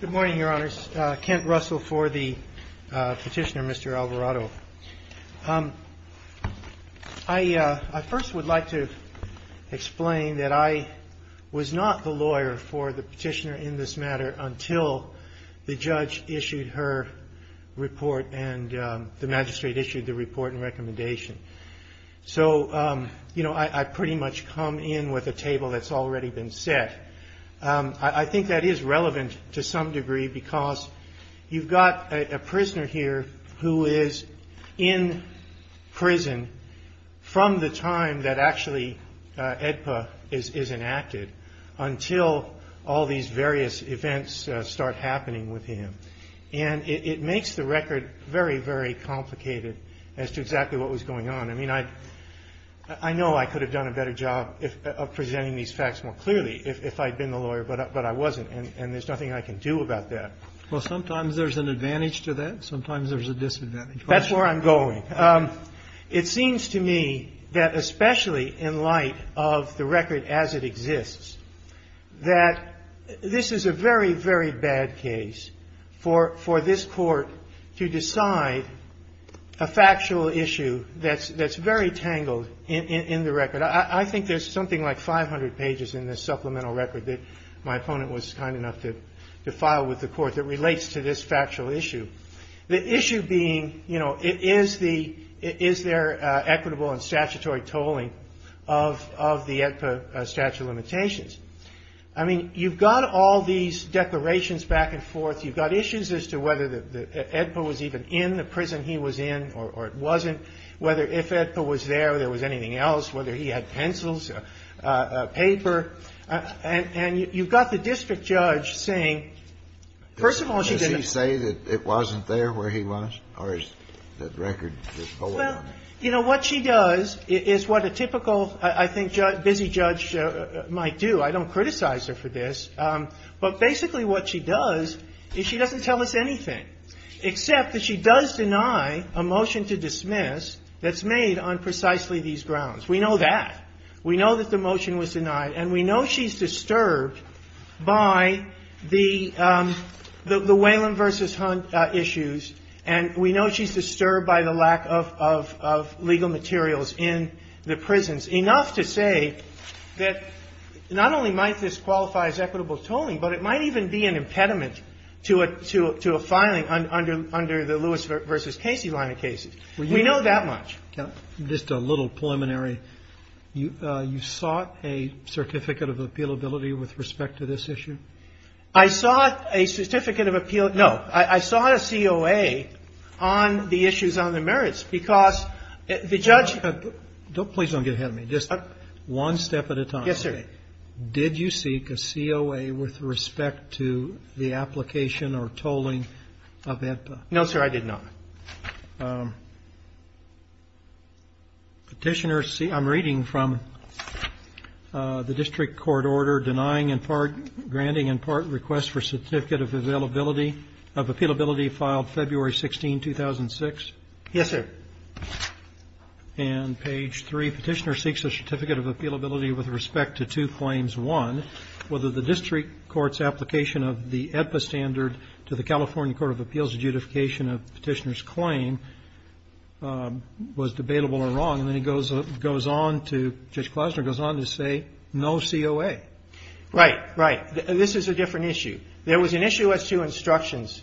Good morning, Your Honors. Kent Russell for the petitioner, Mr. Alvarado. I first would like to explain that I was not the lawyer for the petitioner in this matter until the judge issued her report and the magistrate issued the report and recommendation. So I pretty much come in with a table that's already been set. I think that is relevant to some degree because you've got a prisoner here who is in prison from the time that actually AEDPA is enacted until all these various events start happening with him. And it makes the record very, very complicated as to exactly what was going on. I mean, I know I could have done a better job of presenting these facts more clearly if I'd been the lawyer, but I wasn't, and there's nothing I can do about that. Kennedy Well, sometimes there's an advantage to that. Sometimes there's a disadvantage. That's where I'm going. It seems to me that especially in light of the record as it exists, that this is a very, very bad case for this Court to decide a factual issue that's very tangled in the record. I think there's something like 500 pages in this supplemental record that my opponent was kind enough to file with the Court that relates to this factual issue, the issue being, you know, is there equitable and statutory tolling of the AEDPA statute of limitations? I mean, you've got all these declarations back and forth. You've got issues as to whether the AEDPA was even in the prison he was in or it wasn't, whether if AEDPA was there or there was anything else, whether he had pencils, paper. And you've got the district judge saying, first of all, she didn't ---- Kennedy Does he say that it wasn't there where he was, or is that record just going on? And, you know, what she does is what a typical, I think, busy judge might do. I don't criticize her for this. But basically what she does is she doesn't tell us anything except that she does deny a motion to dismiss that's made on precisely these grounds. We know that. We know that the motion was denied. And we know she's disturbed by the Whalum v. Hunt issues, and we know she's disturbed by the lack of legal materials in the prisons, enough to say that not only might this qualify as equitable tolling, but it might even be an impediment to a filing under the Lewis v. Casey line of cases. We know that much. Kennedy Just a little preliminary. You sought a certificate of appealability with respect to this issue? I sought a certificate of appeal. No. I sought a COA on the issues on the merits, because the judge ---- Kennedy Please don't get ahead of me. Just one step at a time. Did you seek a COA with respect to the application or tolling of AEDPA? No, sir, I did not. Petitioner see ---- I'm reading from the district court order denying in part ---- granting in part request for certificate of availability of appealability filed February 16, 2006. Yes, sir. And page 3, Petitioner seeks a certificate of appealability with respect to two claims. One, whether the district court's application of the AEDPA standard to the California Court of Appeals' judification of Petitioner's claim was debatable or wrong. And then he goes on to ---- Judge Klausner goes on to say no COA. Right. Right. This is a different issue. There was an issue as to instructions,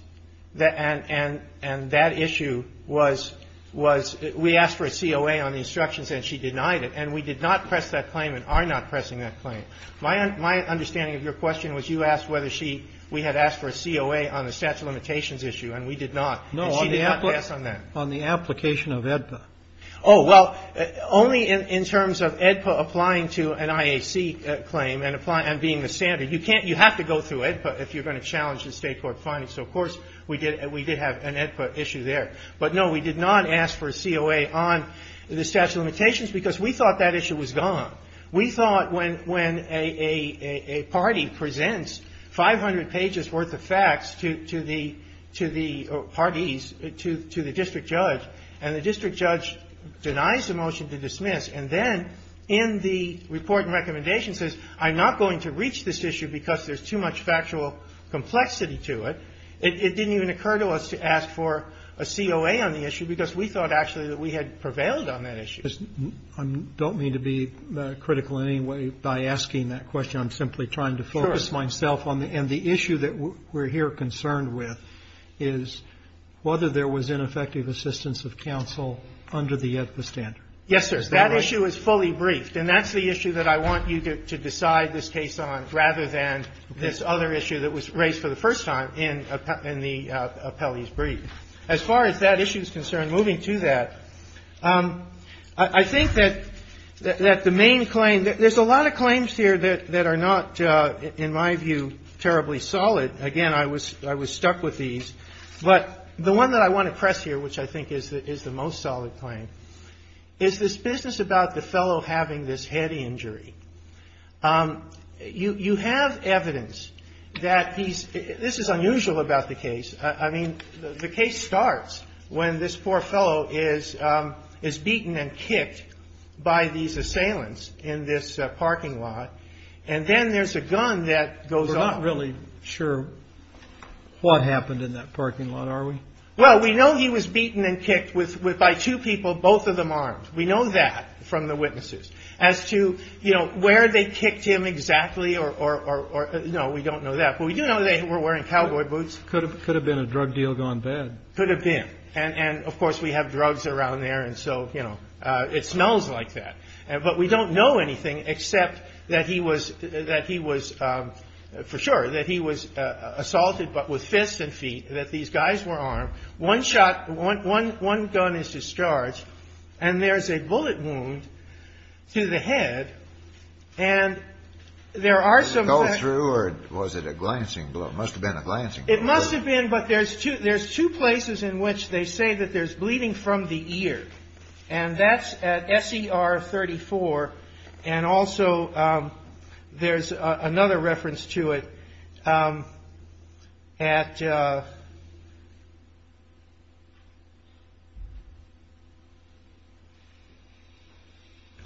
and that issue was we asked for a COA on the instructions and she denied it. And we did not press that claim and are not pressing that claim. My understanding of your question was you asked whether she ---- we had asked for a COA on the statute of limitations issue, and we did not. And she did not ask on that. On the application of AEDPA. Oh, well, only in terms of AEDPA applying to an IAC claim and being the standard. You can't ---- you have to go through AEDPA if you're going to challenge the State Court findings. So, of course, we did have an AEDPA issue there. But, no, we did not ask for a COA on the statute of limitations because we thought that issue was gone. We thought when a party presents 500 pages worth of facts to the parties, to the district judge, and the district judge denies the motion to dismiss, and then in the report and recommendation says I'm not going to reach this issue because there's too much factual complexity to it. It didn't even occur to us to ask for a COA on the issue because we thought actually that we had prevailed on that issue. I don't mean to be critical in any way by asking that question. I'm simply trying to focus myself on the ---- Sure. And the issue that we're here concerned with is whether there was ineffective assistance of counsel under the AEDPA standard. Yes, sir. That issue is fully briefed. And that's the issue that I want you to decide this case on rather than this other issue that was raised for the first time in the appellee's brief. As far as that issue is concerned, moving to that, I think that the main claim ---- there's a lot of claims here that are not, in my view, terribly solid. Again, I was stuck with these. But the one that I want to press here, which I think is the most solid claim, is this business about the fellow having this head injury. You have evidence that he's ---- this is unusual about the case. I mean, the case starts when this poor fellow is beaten and kicked by these assailants in this parking lot. And then there's a gun that goes off. We're not really sure what happened in that parking lot, are we? Well, we know he was beaten and kicked by two people, both of them armed. We know that from the witnesses. As to, you know, where they kicked him exactly or ---- no, we don't know that. But we do know they were wearing cowboy boots. Could have been a drug deal gone bad. Could have been. And, of course, we have drugs around there, and so, you know, it smells like that. But we don't know anything except that he was, for sure, that he was assaulted, but with fists and feet, that these guys were armed. One shot, one gun is discharged, and there's a bullet wound to the head. And there are some ---- Was it a gull through, or was it a glancing blow? It must have been a glancing blow. It must have been, but there's two places in which they say that there's bleeding from the ear. And that's at SER 34. And also there's another reference to it at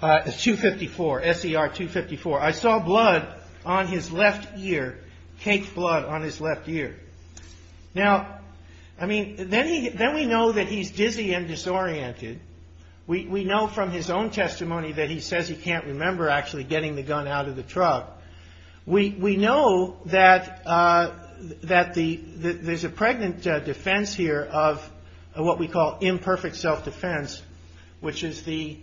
254, SER 254. I saw blood on his left ear, caked blood on his left ear. Now, I mean, then we know that he's dizzy and disoriented. We know from his own testimony that he says he can't remember actually getting the gun out of the truck. We know that there's a pregnant defense here of what we call imperfect self-defense, which is the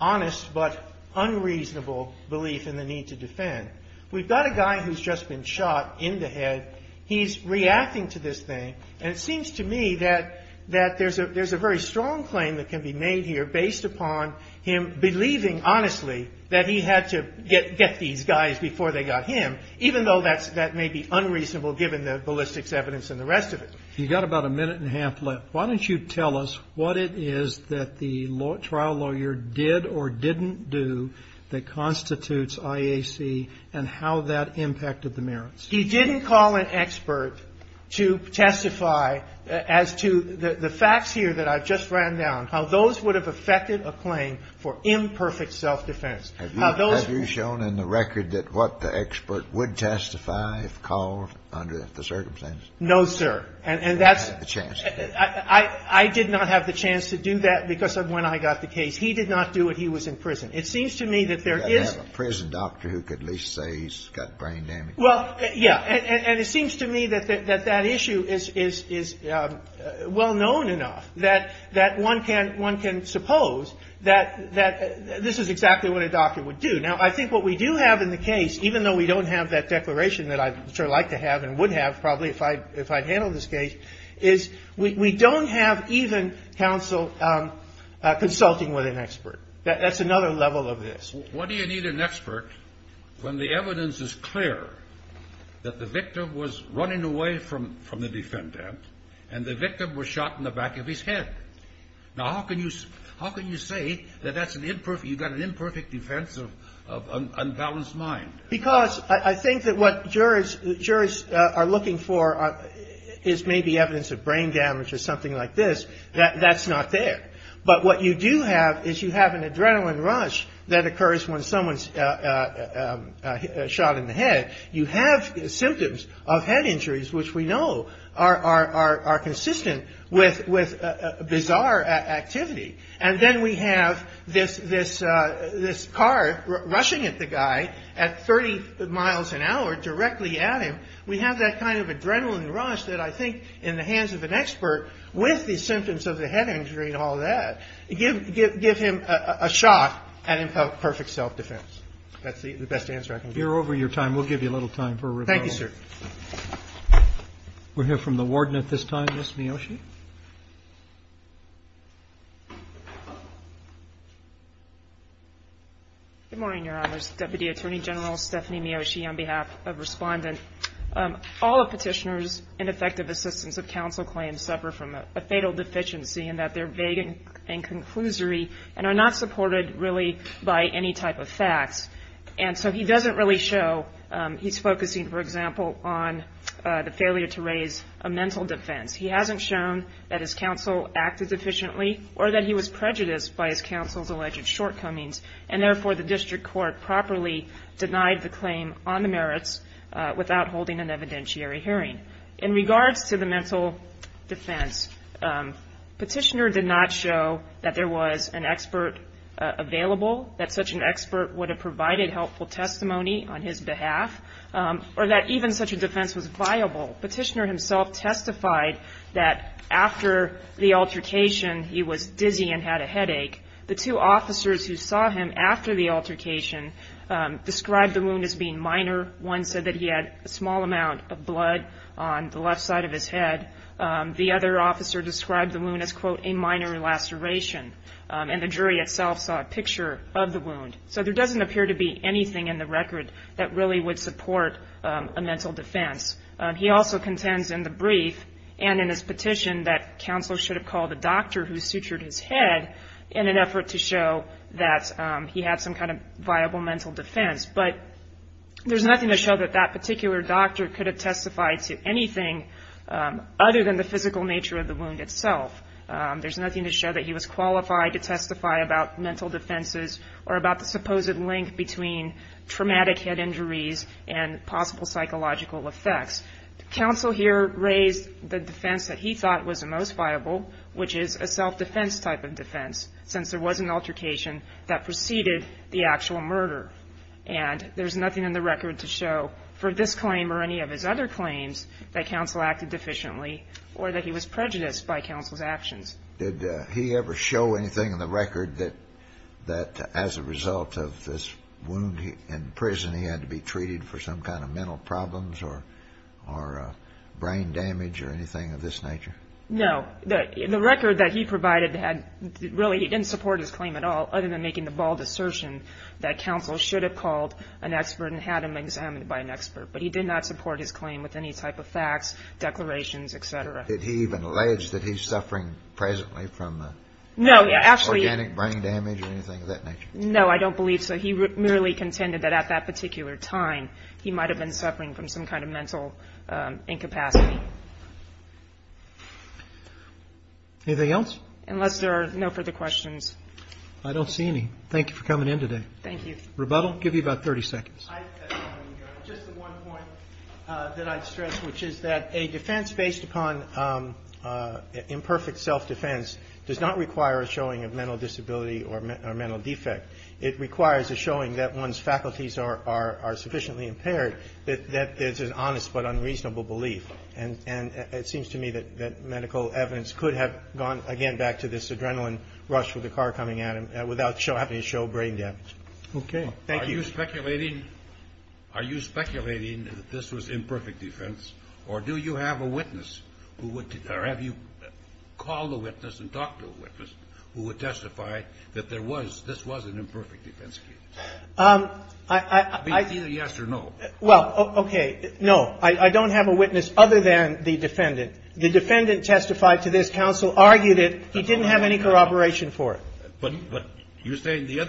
honest but unreasonable belief in the need to defend. We've got a guy who's just been shot in the head. He's reacting to this thing. And it seems to me that there's a very strong claim that can be made here based upon him believing honestly that he had to get these guys before they got him, even though that may be unreasonable given the ballistics evidence and the rest of it. You've got about a minute and a half left. Why don't you tell us what it is that the trial lawyer did or didn't do that constitutes IAC and how that impacted the merits? He didn't call an expert to testify as to the facts here that I've just ran down, how those would have affected a claim for imperfect self-defense. Have you shown in the record that what the expert would testify if called under the circumstances? No, sir. And that's the chance. I did not have the chance to do that because of when I got the case. He did not do it. He was in prison. It seems to me that there is a prison doctor who could at least say he's got brain damage. Well, yeah. And it seems to me that that issue is well-known enough that one can suppose that this is exactly what a doctor would do. Now, I think what we do have in the case, even though we don't have that declaration that I'd sure like to have and would have probably if I'd handled this case, is we don't have even counsel consulting with an expert. That's another level of this. What do you need an expert when the evidence is clear that the victim was running away from the defendant and the victim was shot in the back of his head? Now, how can you say that you've got an imperfect defense of an unbalanced mind? Because I think that what jurors are looking for is maybe evidence of brain damage or something like this. That's not there. But what you do have is you have an adrenaline rush that occurs when someone's shot in the head. You have symptoms of head injuries, which we know are consistent with bizarre activity. And then we have this car rushing at the guy at 30 miles an hour directly at him. We have that kind of adrenaline rush that I think in the hands of an expert, with the symptoms of the head injury and all that, give him a shot at imperfect self-defense. That's the best answer I can give. You're over your time. We'll give you a little time for rebuttal. Thank you, sir. We'll hear from the Warden at this time, Ms. Miyoshi. Good morning, Your Honors. Deputy Attorney General Stephanie Miyoshi on behalf of Respondent. All of Petitioner's ineffective assistance of counsel claims suffer from a fatal deficiency in that they're vague and conclusory and are not supported really by any type of facts. And so he doesn't really show he's focusing, for example, on the failure to raise a mental defense. He hasn't shown that his counsel acted deficiently or that he was prejudiced by his counsel's alleged shortcomings, and therefore the district court properly denied the claim on the merits without holding an evidentiary hearing. In regards to the mental defense, Petitioner did not show that there was an expert available, that such an expert would have provided helpful testimony on his behalf, or that even such a defense was viable. Petitioner himself testified that after the altercation he was dizzy and had a headache. The two officers who saw him after the altercation described the wound as being minor. One said that he had a small amount of blood on the left side of his head. The other officer described the wound as, quote, a minor laceration, and the jury itself saw a picture of the wound. So there doesn't appear to be anything in the record that really would support a mental defense. He also contends in the brief and in his petition that counselors should have called a doctor who sutured his head in an effort to show that he had some kind of viable mental defense. But there's nothing to show that that particular doctor could have testified to anything other than the physical nature of the wound itself. There's nothing to show that he was qualified to testify about mental defenses or about the supposed link between traumatic head injuries and possible psychological effects. Counsel here raised the defense that he thought was the most viable, which is a self-defense type of defense, since there was an altercation that preceded the actual murder. And there's nothing in the record to show for this claim or any of his other claims that counsel acted deficiently or that he was prejudiced by counsel's actions. Did he ever show anything in the record that as a result of this wound in prison, he had to be treated for some kind of mental problems or brain damage or anything of this nature? No. The record that he provided really didn't support his claim at all, other than making the bald assertion that counsel should have called an expert and had him examined by an expert. But he did not support his claim with any type of facts, declarations, et cetera. Did he even allege that he's suffering presently from organic brain damage or anything of that nature? No, I don't believe so. He merely contended that at that particular time, he might have been suffering from some kind of mental incapacity. Anything else? Unless there are no further questions. I don't see any. Thank you for coming in today. Thank you. Rebuttal? I'll give you about 30 seconds. Just one point that I'd stress, which is that a defense based upon imperfect self-defense does not require a showing of mental disability or mental defect. It requires a showing that one's faculties are sufficiently impaired, that there's an honest but unreasonable belief. And it seems to me that medical evidence could have gone, again, back to this adrenaline rush with the car coming at him without having to show brain damage. Okay. Thank you. Are you speculating that this was imperfect defense, or do you have a witness who would or have you called a witness and talked to a witness who would testify that this was an imperfect defense case? Either yes or no. Well, okay. No, I don't have a witness other than the defendant. The defendant testified to this. Counsel argued it. He didn't have any corroboration for it. But you're saying the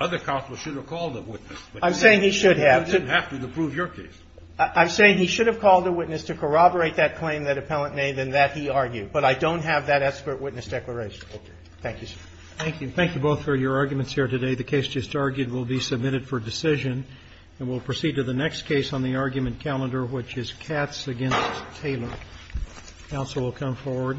other counsel should have called a witness. I'm saying he should have. You didn't have to to prove your case. I'm saying he should have called a witness to corroborate that claim that appellant made and that he argued. But I don't have that expert witness declaration. Okay. Thank you, sir. Thank you. Thank you both for your arguments here today. The case just argued will be submitted for decision. And we'll proceed to the next case on the argument calendar, which is Katz v. Taylor. Counsel will come forward.